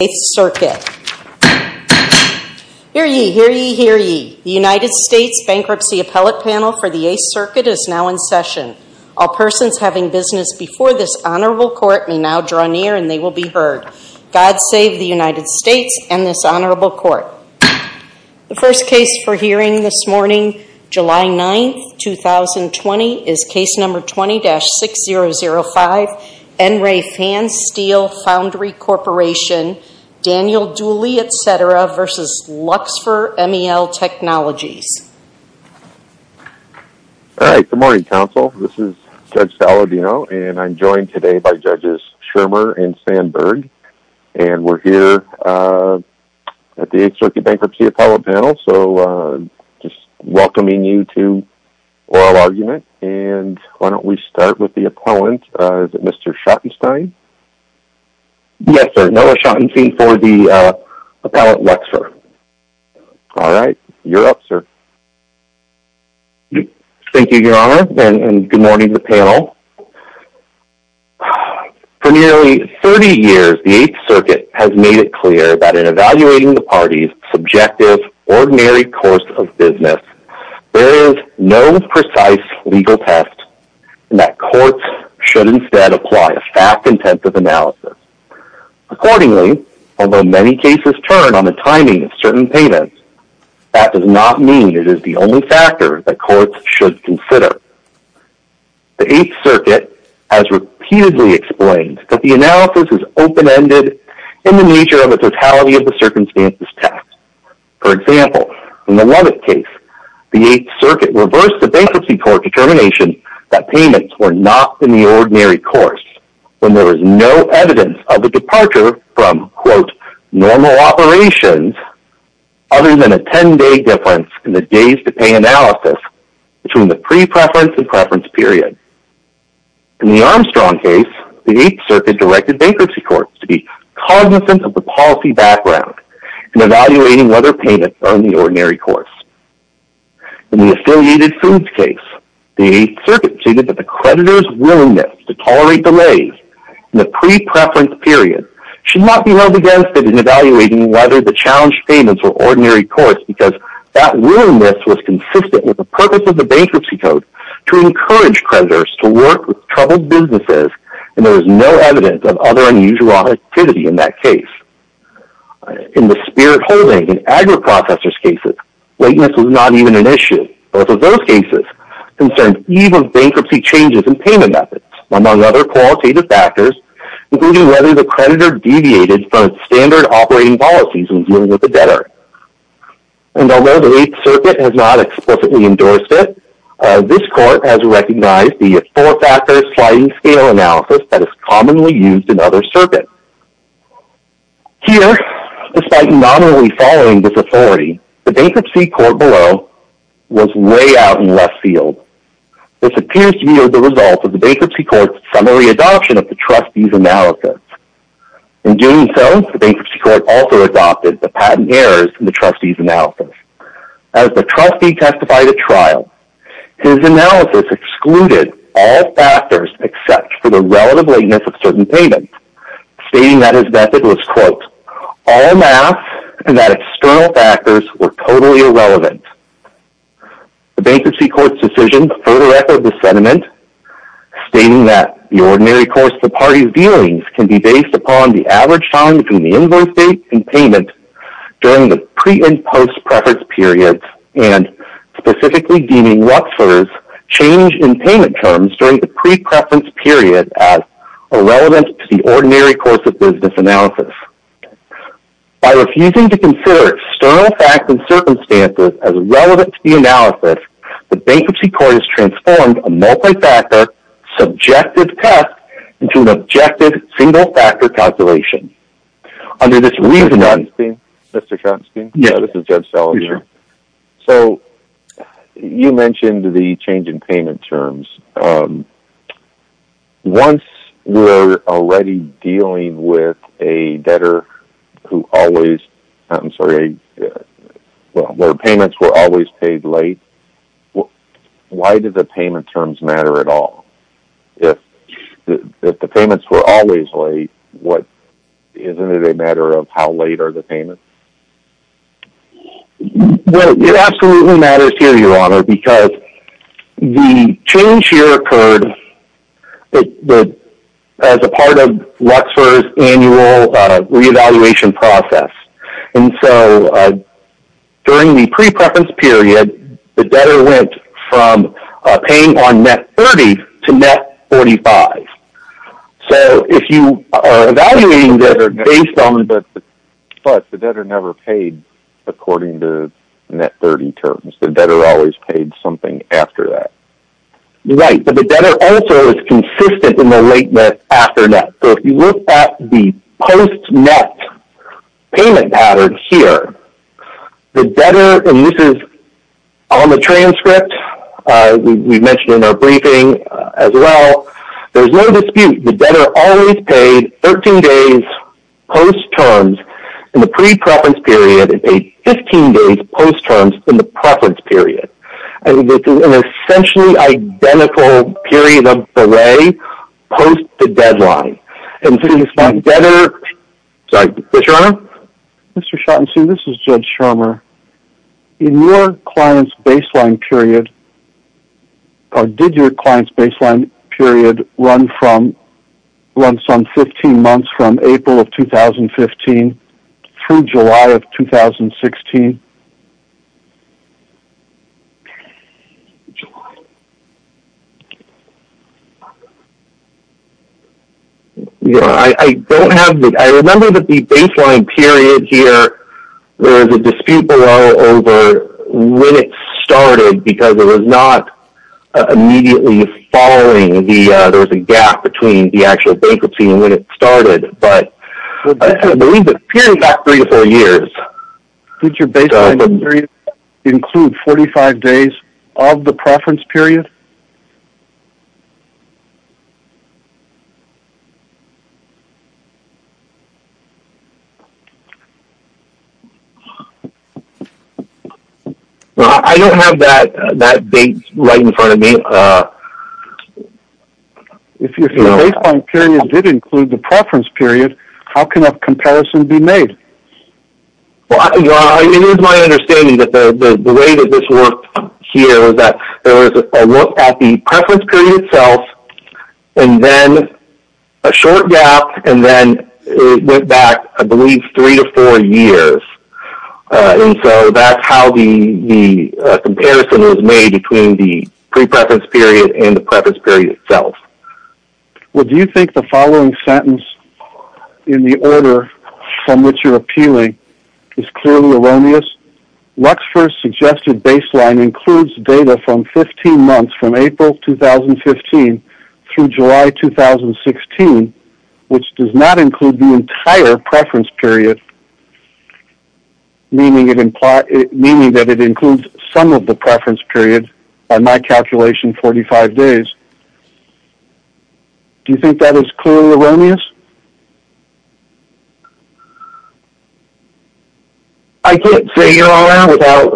The United States Bankruptcy Appellate Panel for the 8th Circuit is now in session. All persons having business before this honorable court may now draw near and they will be heard. God save the United States and this honorable court. The first case for hearing this morning, July 9th, 2020, is case number 20-6005, N. Ray Van Steele Foundry Corporation, Daniel Dooley, etc. v. Luxfer MEL Technologies. All right, good morning, counsel. This is Judge Saladino and I'm joined today by Judges Schirmer and Sandberg. And we're here at the 8th Circuit Bankruptcy Appellate Panel, so just welcoming you to oral argument. And why don't we start with the appellant. Is it Mr. Schottenstein? Yes, sir. Noah Schottenstein for the appellant, Luxfer. All right. You're up, sir. Thank you, Your Honor. And good morning to the panel. For nearly 30 years, the 8th Circuit has made it clear that in evaluating the parties' subjective ordinary course of business, there is no precise legal test and that courts should instead apply a fact-intensive analysis. Accordingly, although many cases turn on the timing of certain payments, that does not mean it is the only factor that courts should consider. The 8th Circuit has repeatedly explained that the analysis is open-ended in the nature of a totality-of-the-circumstances test. For example, in the Leavitt case, the 8th Circuit reversed the bankruptcy court determination that payments were not in the ordinary course when there was no evidence of the departure from, quote, normal operations other than a 10-day difference in the days-to-pay analysis between the pre-preference and preference period. In the Armstrong case, the 8th Circuit directed bankruptcy courts to be cognizant of the policy background in evaluating whether payments are in the ordinary course. In the Affiliated Foods case, the 8th Circuit stated that the creditors' willingness to tolerate delays in the pre-preference period should not be held against it in evaluating whether the challenged payments were ordinary course because that willingness was consistent with the purpose of the bankruptcy code to encourage creditors to work with troubled businesses and there was no evidence of other unusual activity in that case. In the Spirit Holding and AgriProcessors cases, lateness was not even an issue. Both of those cases concerned even bankruptcy changes in payment methods, among other qualitative factors, including whether the creditor deviated from its standard operating policies when dealing with the debtor. And although the 8th Circuit has not explicitly endorsed it, this court has recognized the four-factor sliding-scale analysis that is commonly used in other circuits. Here, despite nominally following this authority, the bankruptcy court below was way out in left field. This appears to be the result of the bankruptcy court's summary adoption of the trustee's analysis. In doing so, the bankruptcy court also adopted the patent errors in the trustee's analysis. As the trustee testified at trial, his analysis excluded all factors except for the relative lateness of certain payments, stating that his method was, quote, all math and that external factors were totally irrelevant. The bankruptcy court's decision further echoed this sentiment, stating that the ordinary course of the party's dealings can be based upon the average time between the invoice date and payment during the pre- and post-preference period, and specifically deeming Luxor's change in payment terms during the pre-preference period as irrelevant to the ordinary course of business analysis. By refusing to consider external facts and circumstances as relevant to the analysis, the bankruptcy court has transformed a multi-factor, subjective test into an objective, single-factor calculation. Under this reasoning, Mr. Konstein? Yes. This is Judge Salazar. Yes, sir. So you mentioned the change in payment terms. Once we're already dealing with a debtor whose payments were always paid late, why do the payment terms matter at all? If the payments were always late, isn't it a matter of how late are the payments? It absolutely matters here, Your Honor, because the change here occurred as a part of Luxor's annual re-evaluation process. During the pre-preference period, the debtor went from paying on net 30 to net 45. So if you are evaluating this based on— But the debtor never paid according to net 30 terms. The debtor always paid something after that. Right. But the debtor also is consistent in the late net after net. So if you look at the post-net payment pattern here, the debtor—and this is on the transcript, we mentioned in our briefing as well—there's no dispute. The debtor always paid 13 days post-terms in the pre-preference period and paid 15 days post-terms in the preference period. And this is an essentially identical period of delay post the deadline. And so this might— Debtor—sorry, Judge Scharmer? Mr. Schottenstein, this is Judge Scharmer. In your client's baseline period—or did your client's baseline period run from—run some 15 months from April of 2015 through July of 2016? July. I don't have the—I remember that the baseline period here, there was a dispute below over when it started because it was not immediately following the—there was a gap between the actual bankruptcy and when it started. But I believe the period got three to four years. Did your baseline period include 45 days of the preference period? Well, I don't have that date right in front of me. If your baseline period did include the preference period, how can that comparison be made? Well, it is my understanding that the way that this worked here was that there was a look at the preference period itself and then a short gap and then it went back, I believe, three to four years. And so, that's how the comparison was made between the pre-preference period and the preference period itself. Well, do you think the following sentence in the order from which you're appealing is clearly erroneous? Luxfer's suggested baseline includes data from 15 months from April 2015 through July 2016, which does not include the entire preference period, meaning that it includes some of the preference period on my calculation, 45 days. Do you think that is clearly erroneous? I can't say you're on there without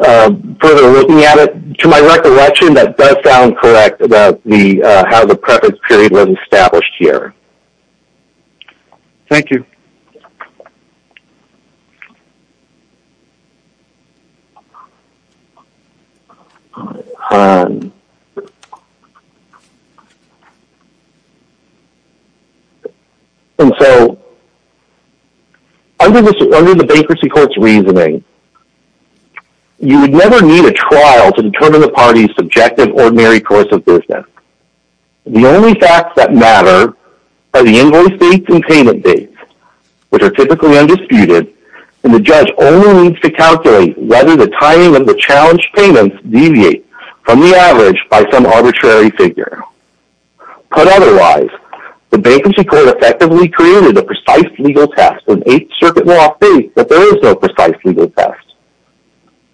further looking at it. To my recollection, that does sound correct about how the preference period was established here. Thank you. And so, under the Bankruptcy Court's reasoning, you would never need a trial to determine the party's subjective ordinary course of business. The only facts that matter are the invoice dates and payment dates, which are typically undisputed, and the judge only needs to calculate whether the timing of the challenged payments deviates from the average by some arbitrary figure. Put otherwise, the Bankruptcy Court effectively created a precise legal test and Eighth Circuit law states that there is no precise legal test.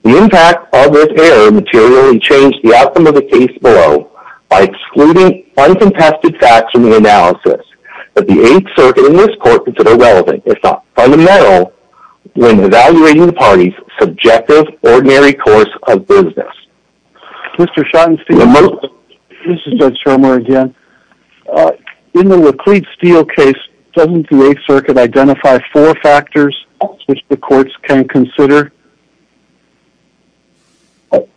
The impact of this error materially changed the outcome of the case below by excluding uncontested facts from the analysis that the Eighth Circuit and this court consider relevant, if not fundamental, when evaluating the party's subjective ordinary course of business. In the Laclede Steel case, doesn't the Eighth Circuit identify four factors which the courts can consider?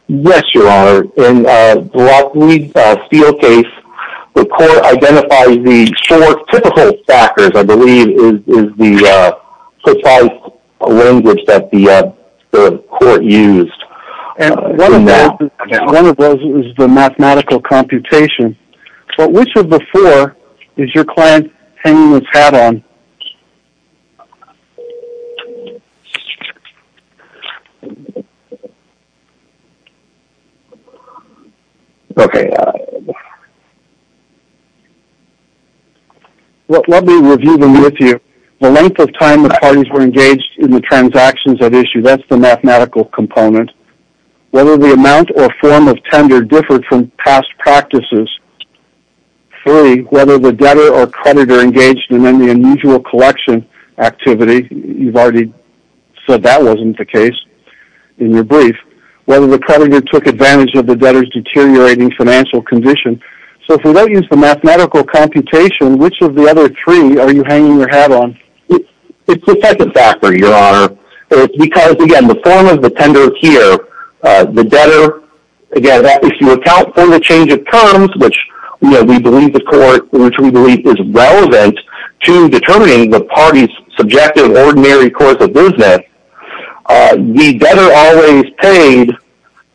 Yes, Your Honor. In the Laclede Steel case, the court identifies the four typical factors, I believe, is the precise language that the court used. One of those is the mathematical computation. But which of the four is your client hanging his hat on? Let me review them with you. The length of time the parties were engaged in the transactions at issue, that's the mathematical component. Whether the amount or form of tender differed from past practices. Three, whether the debtor or creditor engaged in any unusual collection activity, you've said that wasn't the case in your brief. Whether the creditor took advantage of the debtor's deteriorating financial condition. So if we don't use the mathematical computation, which of the other three are you hanging your hat on? It's the second factor, Your Honor. Because, again, the form of the tender here, the debtor, again, if you account for the change of terms, which we believe the court, which we believe is relevant to determining the party's subjective ordinary course of business, the debtor always paid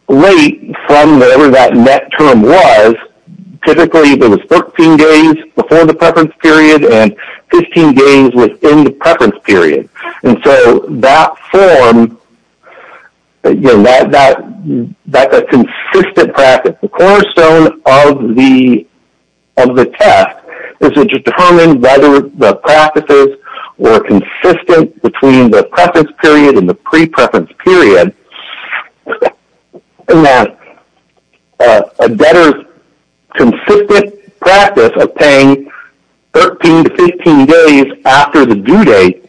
late from whatever that net term was. Typically, it was 14 days before the preference period and 15 days within the preference period. And so that form, that's a consistent practice. The cornerstone of the test is to determine whether the practices were consistent between the preference period and the pre-preference period and that a debtor's consistent practice of paying 13 to 15 days after the due date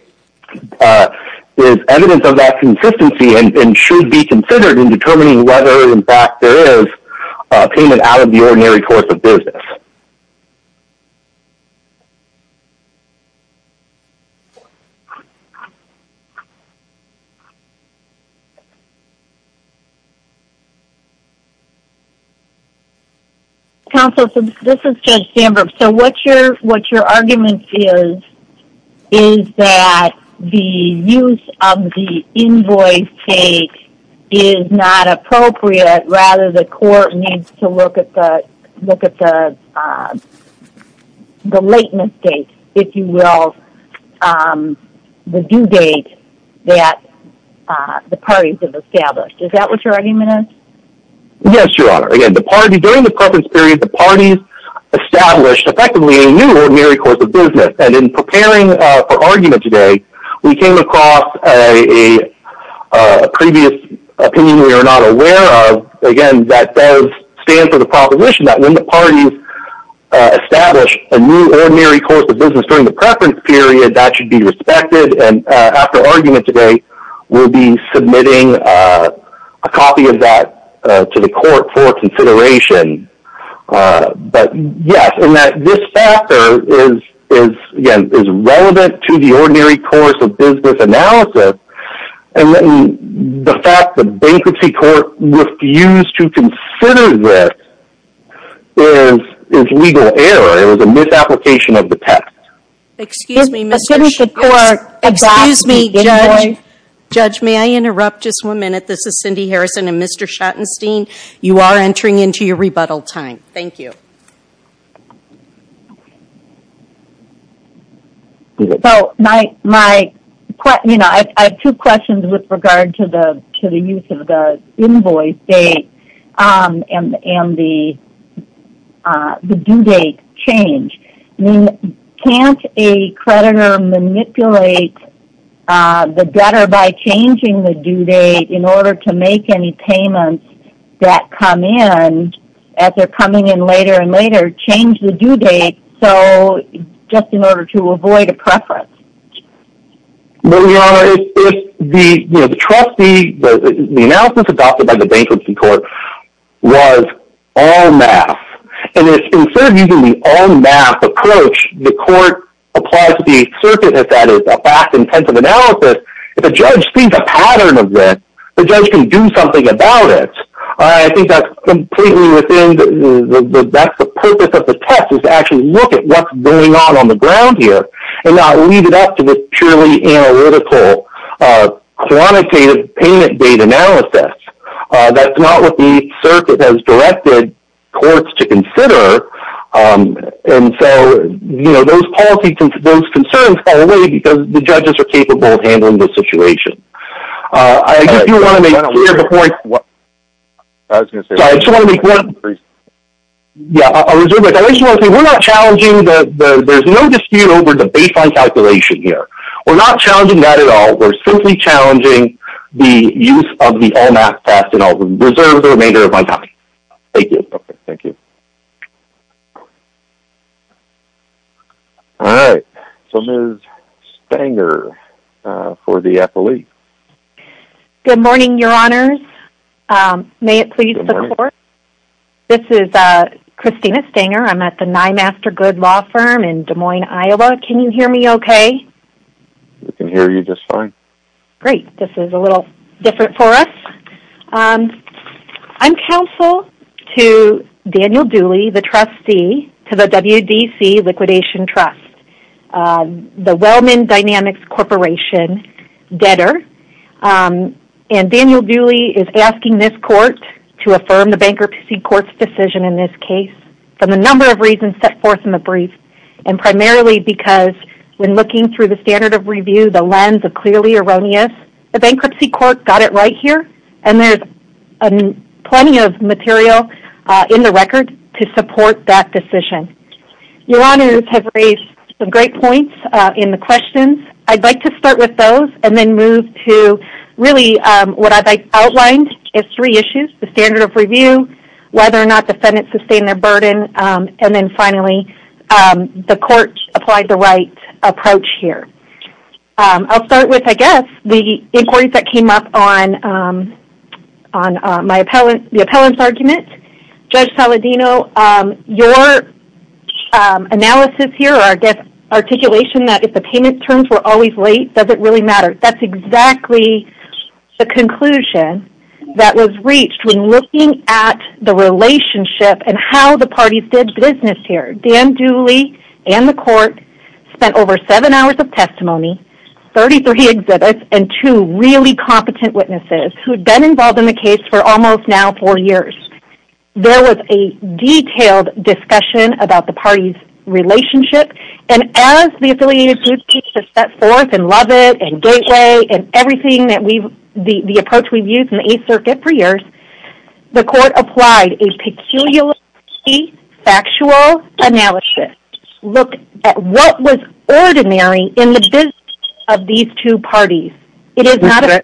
is evidence of that consistency and should be considered in determining whether, in fact, there is a payment out of the ordinary course of business. Counsel, this is Judge Sandberg. So what your argument is, is that the use of the invoice date is not appropriate. Rather, the court needs to look at the lateness date, if you will, the due date that the parties have established. Is that what your argument is? Yes, Your Honor. During the preference period, the parties established, effectively, a new ordinary course of business. And in preparing for argument today, we came across a previous opinion we are not aware of, again, that does stand for the proposition that when the parties establish a new ordinary course of business during the preference period, that should be respected. After argument today, we will be submitting a copy of that to the court for consideration. But yes, this factor is relevant to the ordinary course of business analysis. The fact that the bankruptcy court refused to consider this is legal error. It was a misapplication of the text. Excuse me, Judge, may I interrupt just one minute? This is Cindy Harrison and Mr. Schottenstein. You are entering into your rebuttal time. Thank you. So I have two questions with regard to the use of the invoice date and the due date change. I mean, can't a creditor manipulate the debtor by changing the due date in order to make any payments that come in as they are coming in later and later, change the due date just in order to avoid a preference? Well, Your Honor, the trustee, the analysis adopted by the bankruptcy court was all math. And instead of using the all math approach, the court applies to the circuit as that is a fact-intensive analysis. If a judge sees a pattern of this, the judge can do something about it. I think that's completely within the purpose of the test is to actually look at what's going on on the ground here and not leave it up to the purely analytical quantitative payment date analysis. That's not what the circuit has directed courts to consider. And so those concerns fall away because the judges are capable of handling the situation. There's no dispute over the baseline calculation here. We're not challenging that at all. We're simply challenging the use of the all math test and I'll reserve the remainder of my time. Thank you. Okay. Thank you. All right. So Ms. Stanger for the affiliate. Good morning, Your Honors. May it please the court? This is Christina Stanger. I'm at the Nye Master Good law firm in Des Moines, Iowa. Can you hear me okay? We can hear you just fine. Great. This is a little different for us. I'm counsel to Daniel Dooley, the trustee to the WDC Liquidation Trust, the Wellman Dynamics Corporation debtor. And Daniel Dooley is asking this court to affirm the bankruptcy court's decision in this case for the number of reasons set forth in the brief and primarily because when looking through the standard of review, the lens of clearly erroneous, the bankruptcy court got it right here. And there's plenty of material in the record to support that decision. Your Honors have raised some great points in the questions. I'd like to start with those and then move to really what I've outlined as three issues, the standard of review, whether or not defendants sustain their burden. And then finally, the court applied the right approach here. I'll start with, I guess, the inquiry that came up on the appellant's argument. Judge Saladino, your analysis here or I guess articulation that if the payment terms were always late, does it really matter? That's exactly the conclusion that was reached when looking at the relationship and how the parties did business here. Dan Dooley and the court spent over seven hours of testimony, 33 exhibits, and two really competent witnesses who had been involved in the case for almost now four years. There was a detailed discussion about the party's relationship. And as the affiliated groups teach to set forth and love it and gateway and everything the approach we've used in the Eighth Circuit for years, the court applied a peculiarly factual analysis. Look at what was ordinary in the business of these two parties. It is not a...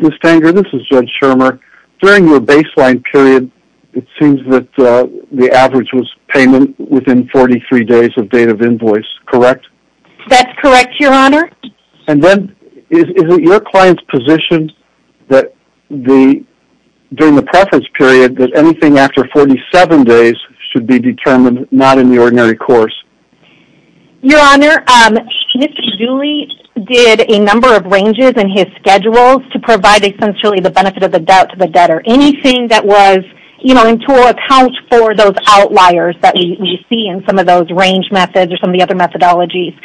Ms. Fanger, this is Judge Shermer. During your baseline period, it seems that the average was payment within 43 days of date of invoice, correct? That's correct, Your Honor. And then is it your client's position that during the preference period that anything after 47 days should be determined not in the ordinary course? Your Honor, Mr. Dooley did a number of ranges in his schedules to provide essentially the benefit of the doubt to the debtor. Anything that was, you know, to account for those outliers that we see in some of those range methods or some of the other methodologies.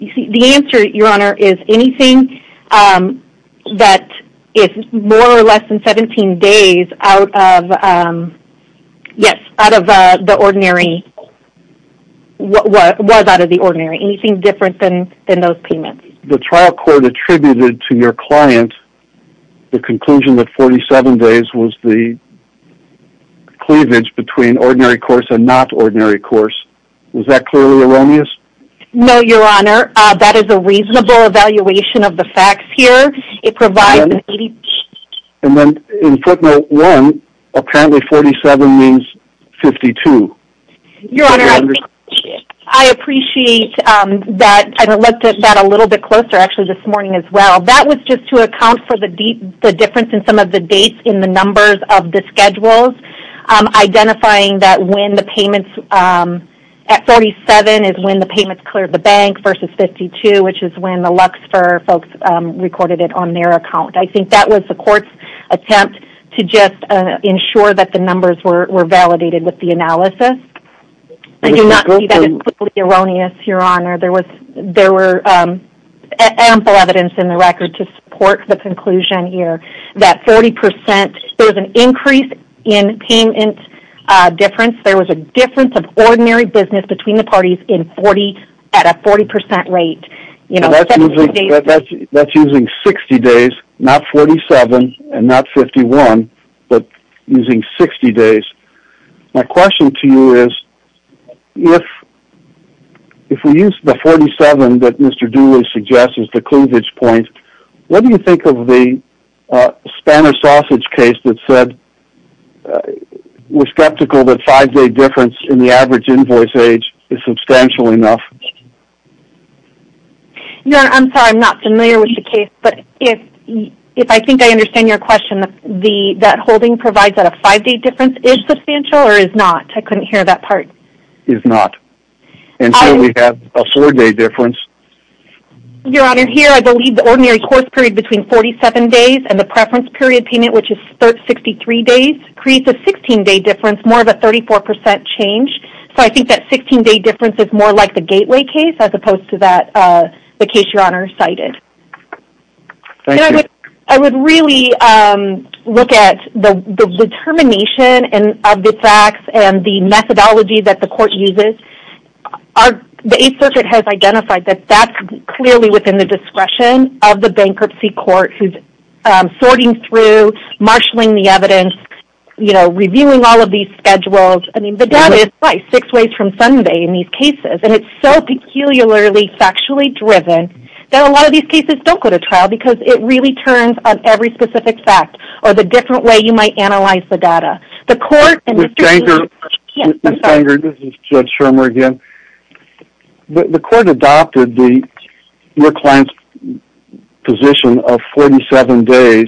You see, the answer, Your Honor, is anything that is more or less than 17 days out of, yes, out of the ordinary, was out of the ordinary. Anything different than those payments. The trial court attributed to your client the conclusion that 47 days was the cleavage between ordinary course and not ordinary course. Was that clearly erroneous? No, Your Honor. That is a reasonable evaluation of the facts here. It provides an 80... And then in footnote one, apparently 47 means 52. Your Honor, I appreciate that and looked at that a little bit closer actually this morning as well. That was just to account for the difference in some of the dates in the numbers of the versus 52, which is when the Luxfer folks recorded it on their account. I think that was the court's attempt to just ensure that the numbers were validated with the analysis. I do not see that as clearly erroneous, Your Honor. There was... There were ample evidence in the record to support the conclusion here that 40 percent... There was an increase in payment difference. There was a difference of ordinary business between the parties at a 40 percent rate. That's using 60 days, not 47 and not 51, but using 60 days. My question to you is, if we use the 47 that Mr. Dooley suggests as the cleavage point, what do you think of the Spanner Sausage case that said we're skeptical that five-day difference in the average invoice age is substantial enough? Your Honor, I'm sorry, I'm not familiar with the case, but if I think I understand your question, that holding provides that a five-day difference is substantial or is not? I couldn't hear that part. Is not. And so we have a four-day difference. Your Honor, here, I believe the ordinary course period between 47 days and the preference period payment, which is 63 days, creates a 16-day difference, more of a 34 percent change. So I think that 16-day difference is more like the Gateway case as opposed to the case Your Honor cited. Thank you. I would really look at the determination of the facts and the methodology that the court uses. Our, the Eighth Circuit has identified that that's clearly within the discretion of the bankruptcy court who's sorting through, marshaling the evidence, you know, reviewing all of these schedules. I mean, the data is six ways from Sunday in these cases, and it's so peculiarly factually driven that a lot of these cases don't go to trial because it really turns on every specific fact or the different way you might analyze the data. The court— Ms. Stanger, this is Judge Schirmer again. The court adopted the, your client's position of 47 days,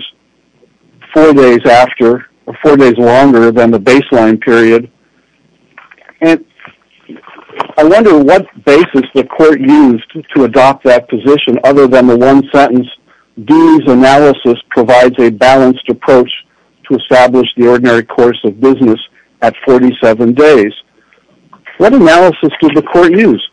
four days after, or four days longer than the baseline period. And I wonder what basis the court used to adopt that position other than the one sentence, D's analysis provides a balanced approach to establish the ordinary course of business at 47 days. What analysis did the court use?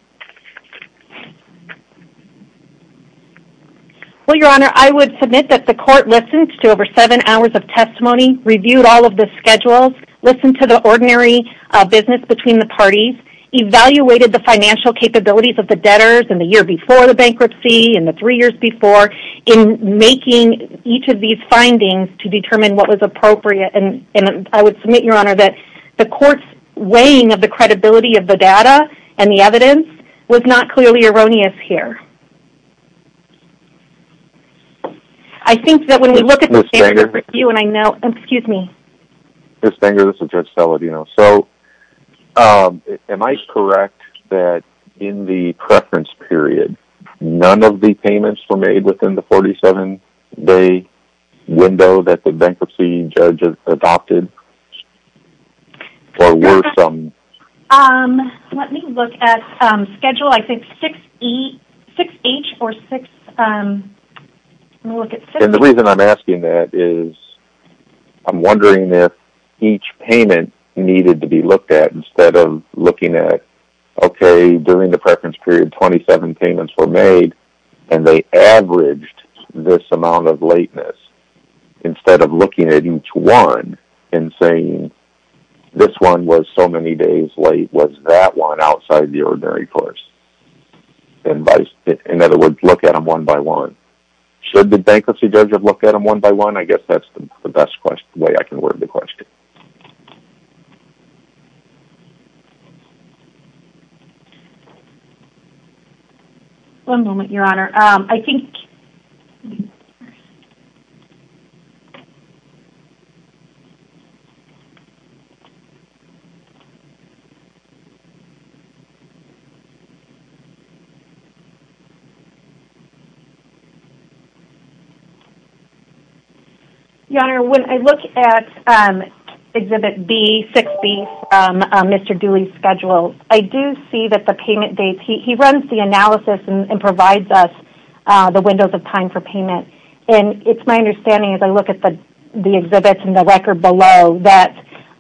Well, Your Honor, I would submit that the court listened to over seven hours of testimony, reviewed all of the schedules, listened to the ordinary business between the parties, evaluated the financial capabilities of the debtors in the year before the bankruptcy and the three years before in making each of these findings to determine what was appropriate. And I would submit, Your Honor, that the court's weighing of the credibility of the data and the evidence was not clearly erroneous here. I think that when we look at— Ms. Stanger— You and I know— Excuse me. Ms. Stanger, this is Judge Saladino. So, am I correct that in the preference period, none of the payments were made within the adopted or were some— Let me look at schedule, I think 6H or 6— And the reason I'm asking that is I'm wondering if each payment needed to be looked at instead of looking at, okay, during the preference period, 27 payments were made and they averaged this one in saying this one was so many days late, was that one outside the ordinary course? In other words, look at them one by one. Should the bankruptcy debtor look at them one by one? I guess that's the best way I can word the question. One moment, Your Honor. I think— Your Honor, when I look at Exhibit B, 6B from Mr. Dooley's schedule, I do see that the payment and provides us the windows of time for payment. And it's my understanding as I look at the exhibits and the record below that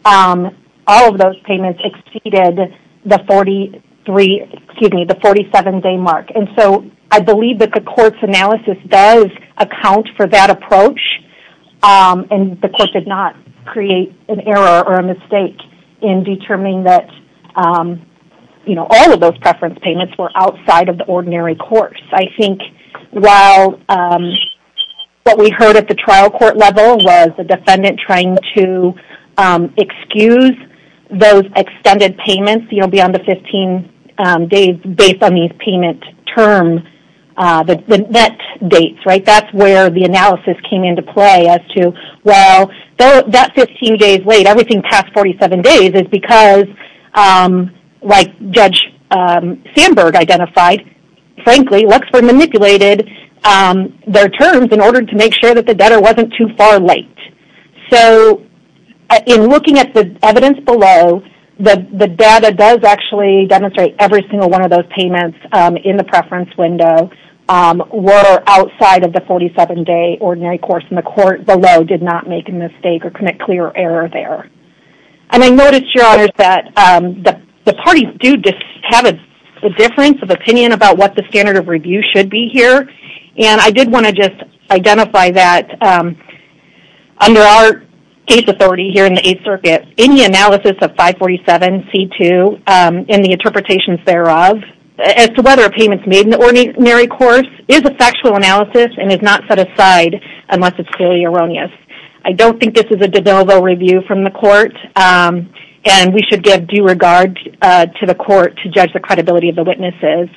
all of those payments exceeded the 47-day mark. And so, I believe that the court's analysis does account for that approach. And the court did not create an error or a mistake in determining that all of those preference payments were outside of the ordinary course. I think while what we heard at the trial court level was the defendant trying to excuse those extended payments, you know, beyond the 15 days based on these payment terms, the net dates, right, that's where the analysis came into play as to, well, that 15 days late, everything past 47 days is because, like Judge Sandberg identified, frankly, Luxford manipulated their terms in order to make sure that the debtor wasn't too far late. So, in looking at the evidence below, the data does actually demonstrate every single one of those payments in the preference window were outside of the 47-day ordinary course. And the court below did not make a mistake or commit clear error there. And I noticed, Your Honors, that the parties do have a difference of opinion about what the standard of review should be here. And I did want to just identify that under our case authority here in the Eighth Circuit, any analysis of 547C2 and the interpretations thereof as to whether a payment's made in the ordinary course is a factual analysis and is not set aside unless it's clearly erroneous. I don't think this is a de novo review from the court, and we should give due regard to the court to judge the credibility of the witnesses.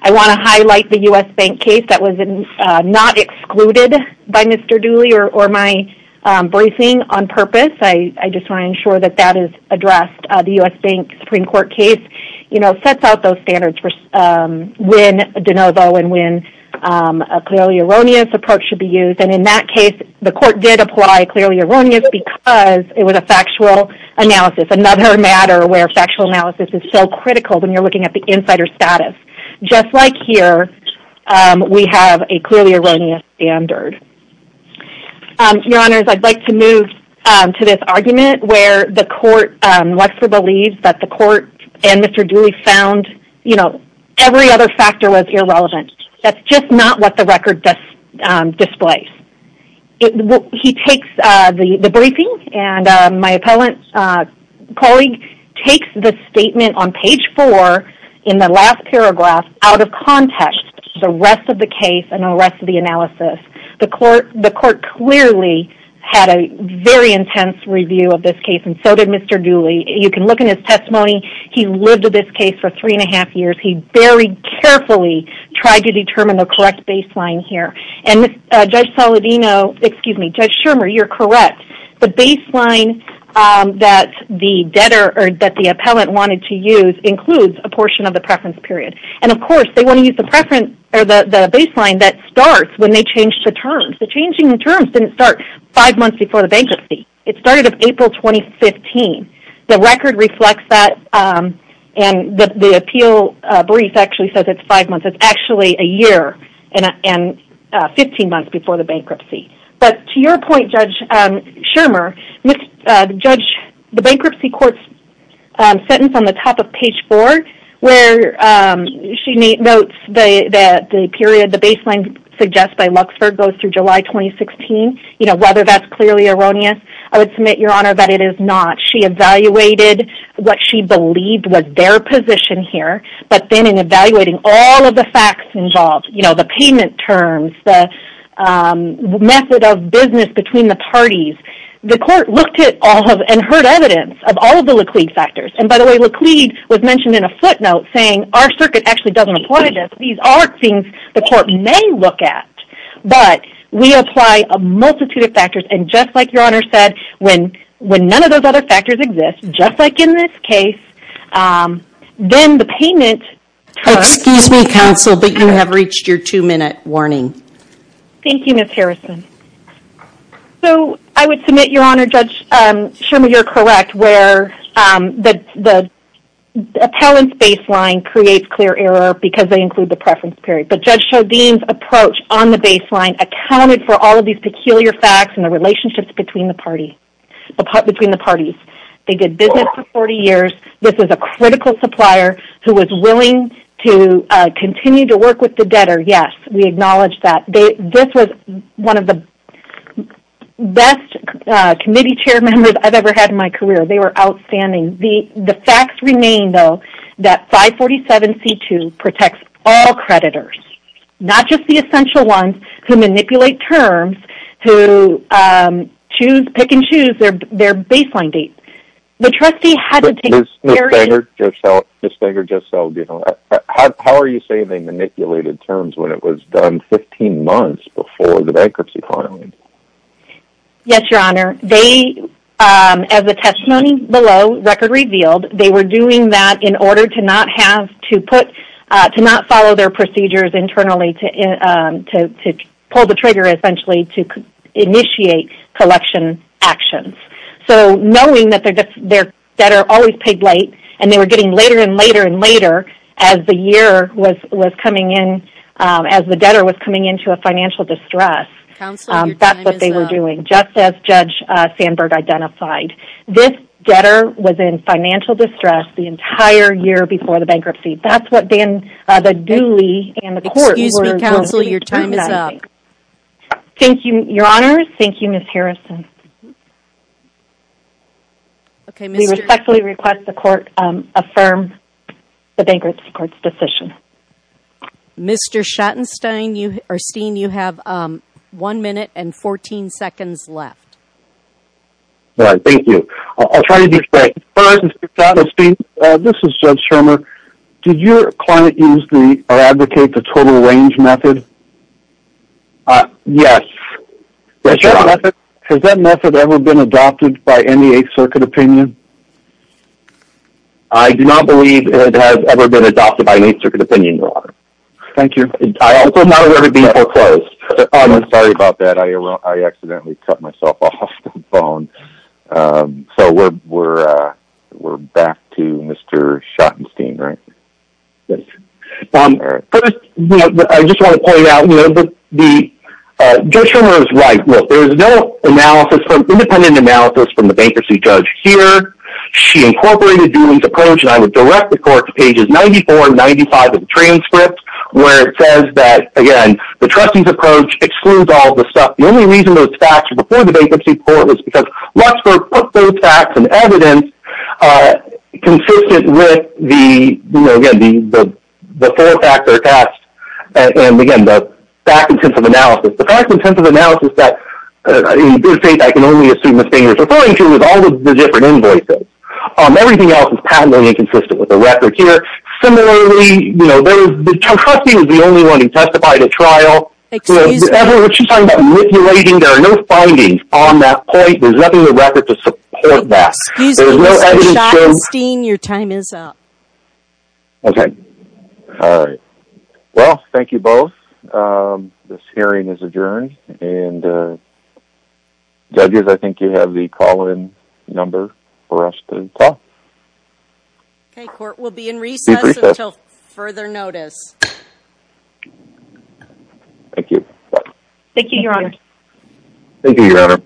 I want to highlight the U.S. Bank case that was not excluded by Mr. Dooley or my voicing on purpose. I just want to ensure that that is addressed. The U.S. Bank Supreme Court case, you know, sets out those standards for when de novo and when a clearly erroneous approach should be used. And in that case, the court did apply clearly erroneous because it was a factual analysis, another matter where factual analysis is so critical when you're looking at the insider status. Just like here, we have a clearly erroneous standard. Your Honors, I'd like to move to this argument where the court, Lexler believes that the court and Mr. Dooley found, you know, every other factor was irrelevant. That's just not what the record displays. He takes the briefing, and my appellant colleague takes the statement on page four in the last paragraph out of context, the rest of the case and the rest of the analysis. The court clearly had a very intense review of this case, and so did Mr. Dooley. You can look in his testimony. He lived with this case for three and a half years. He very carefully tried to determine the correct baseline here. And Judge Soledino, excuse me, Judge Shermer, you're correct. The baseline that the debtor or that the appellant wanted to use includes a portion of the preference period. And of course, they want to use the preference or the baseline that starts when they change the terms. The changing the terms didn't start five months before the bankruptcy. It started in April 2015. The record reflects that, and the appeal brief actually says it's five months. It's actually a year and 15 months before the bankruptcy. But to your point, Judge Shermer, the bankruptcy court's sentence on the top of page four, where she notes that the period the baseline suggests by Luxford goes through July 2016, you know, whether that's clearly erroneous. I would submit, Your Honor, that it is not. She evaluated what she believed was their position here. But then in evaluating all of the facts involved, you know, the payment terms, the method of business between the parties, the court looked at all of and heard evidence of all of the Laclede factors. And by the way, Laclede was mentioned in a footnote saying our circuit actually doesn't apply to this. These are things the court may look at. But we apply a multitude of factors, and just like Your Honor said, when none of those other factors exist, just like in this case, then the payment terms... Excuse me, counsel, but you have reached your two-minute warning. Thank you, Ms. Harrison. So I would submit, Your Honor, Judge Shermer, you're correct, where the appellant's baseline creates clear error because they include the preference period. But Judge Chodine's approach on the baseline accounted for all of these peculiar facts and the relationships between the parties. They did business for 40 years. This is a critical supplier who was willing to continue to work with the debtor. Yes, we acknowledge that. This was one of the best committee chair members I've ever had in my career. They were outstanding. The facts remain, though, that 547C2 protects all creditors, not just the essential ones who manipulate terms, who pick and choose their baseline date. The trustee had to take care of... Ms. Stenger just said, how are you saying they manipulated terms when it was done 15 months before the bankruptcy filing? Yes, Your Honor. They, as the testimony below record revealed, they were doing that in order to not follow their procedures internally to pull the trigger, essentially, to initiate collection actions. So knowing that their debtor always paid late and they were getting later and later and later as the year was coming in, as the debtor was coming into a financial distress, that's what they were doing, just as Judge Sandberg identified. This debtor was in financial distress the entire year before the bankruptcy. That's what the duly and the court were... Excuse me, counsel. Your time is up. Thank you, Your Honor. Thank you, Ms. Harrison. We respectfully request the court affirm the bankruptcy court's decision. Mr. Schattenstein, you are seeing you have one minute and 14 seconds left. All right. Thank you. I'll try to be quick. First, Mr. Schattenstein, this is Judge Schermer. Did your client use the or advocate the total range method? Yes. Has that method ever been adopted by any Eighth Circuit opinion? I do not believe it has ever been adopted by an Eighth Circuit opinion, Your Honor. Thank you. I also am not aware of it being foreclosed. Sorry about that. I accidentally cut myself off the phone. So we're back to Mr. Schattenstein, right? Yes. First, I just want to point out, Judge Schermer is right. There's no independent analysis from the bankruptcy judge here. She incorporated Dooling's approach, and I would direct the court to pages 94 and 95 of the transcript, where it says that, again, the trustee's approach excludes all the stuff. The only reason those facts were before the bankruptcy court was because Luxburg put those facts and evidence consistent with the four-factor test and, again, the fact and sense of analysis. In this case, I can only assume the state is referring to is all of the different invoices. Everything else is patently inconsistent with the record here. Similarly, the trustee is the only one who testified at trial. Excuse me. Whatever she's talking about manipulating, there are no findings on that point. There's nothing in the record to support that. Excuse me, Mr. Schattenstein, your time is up. Okay. All right. Well, thank you both. This hearing is adjourned, and, judges, I think you have the call-in number for us to call. Okay. Court will be in recess until further notice. Thank you. Thank you, Your Honor. Thank you, Your Honor.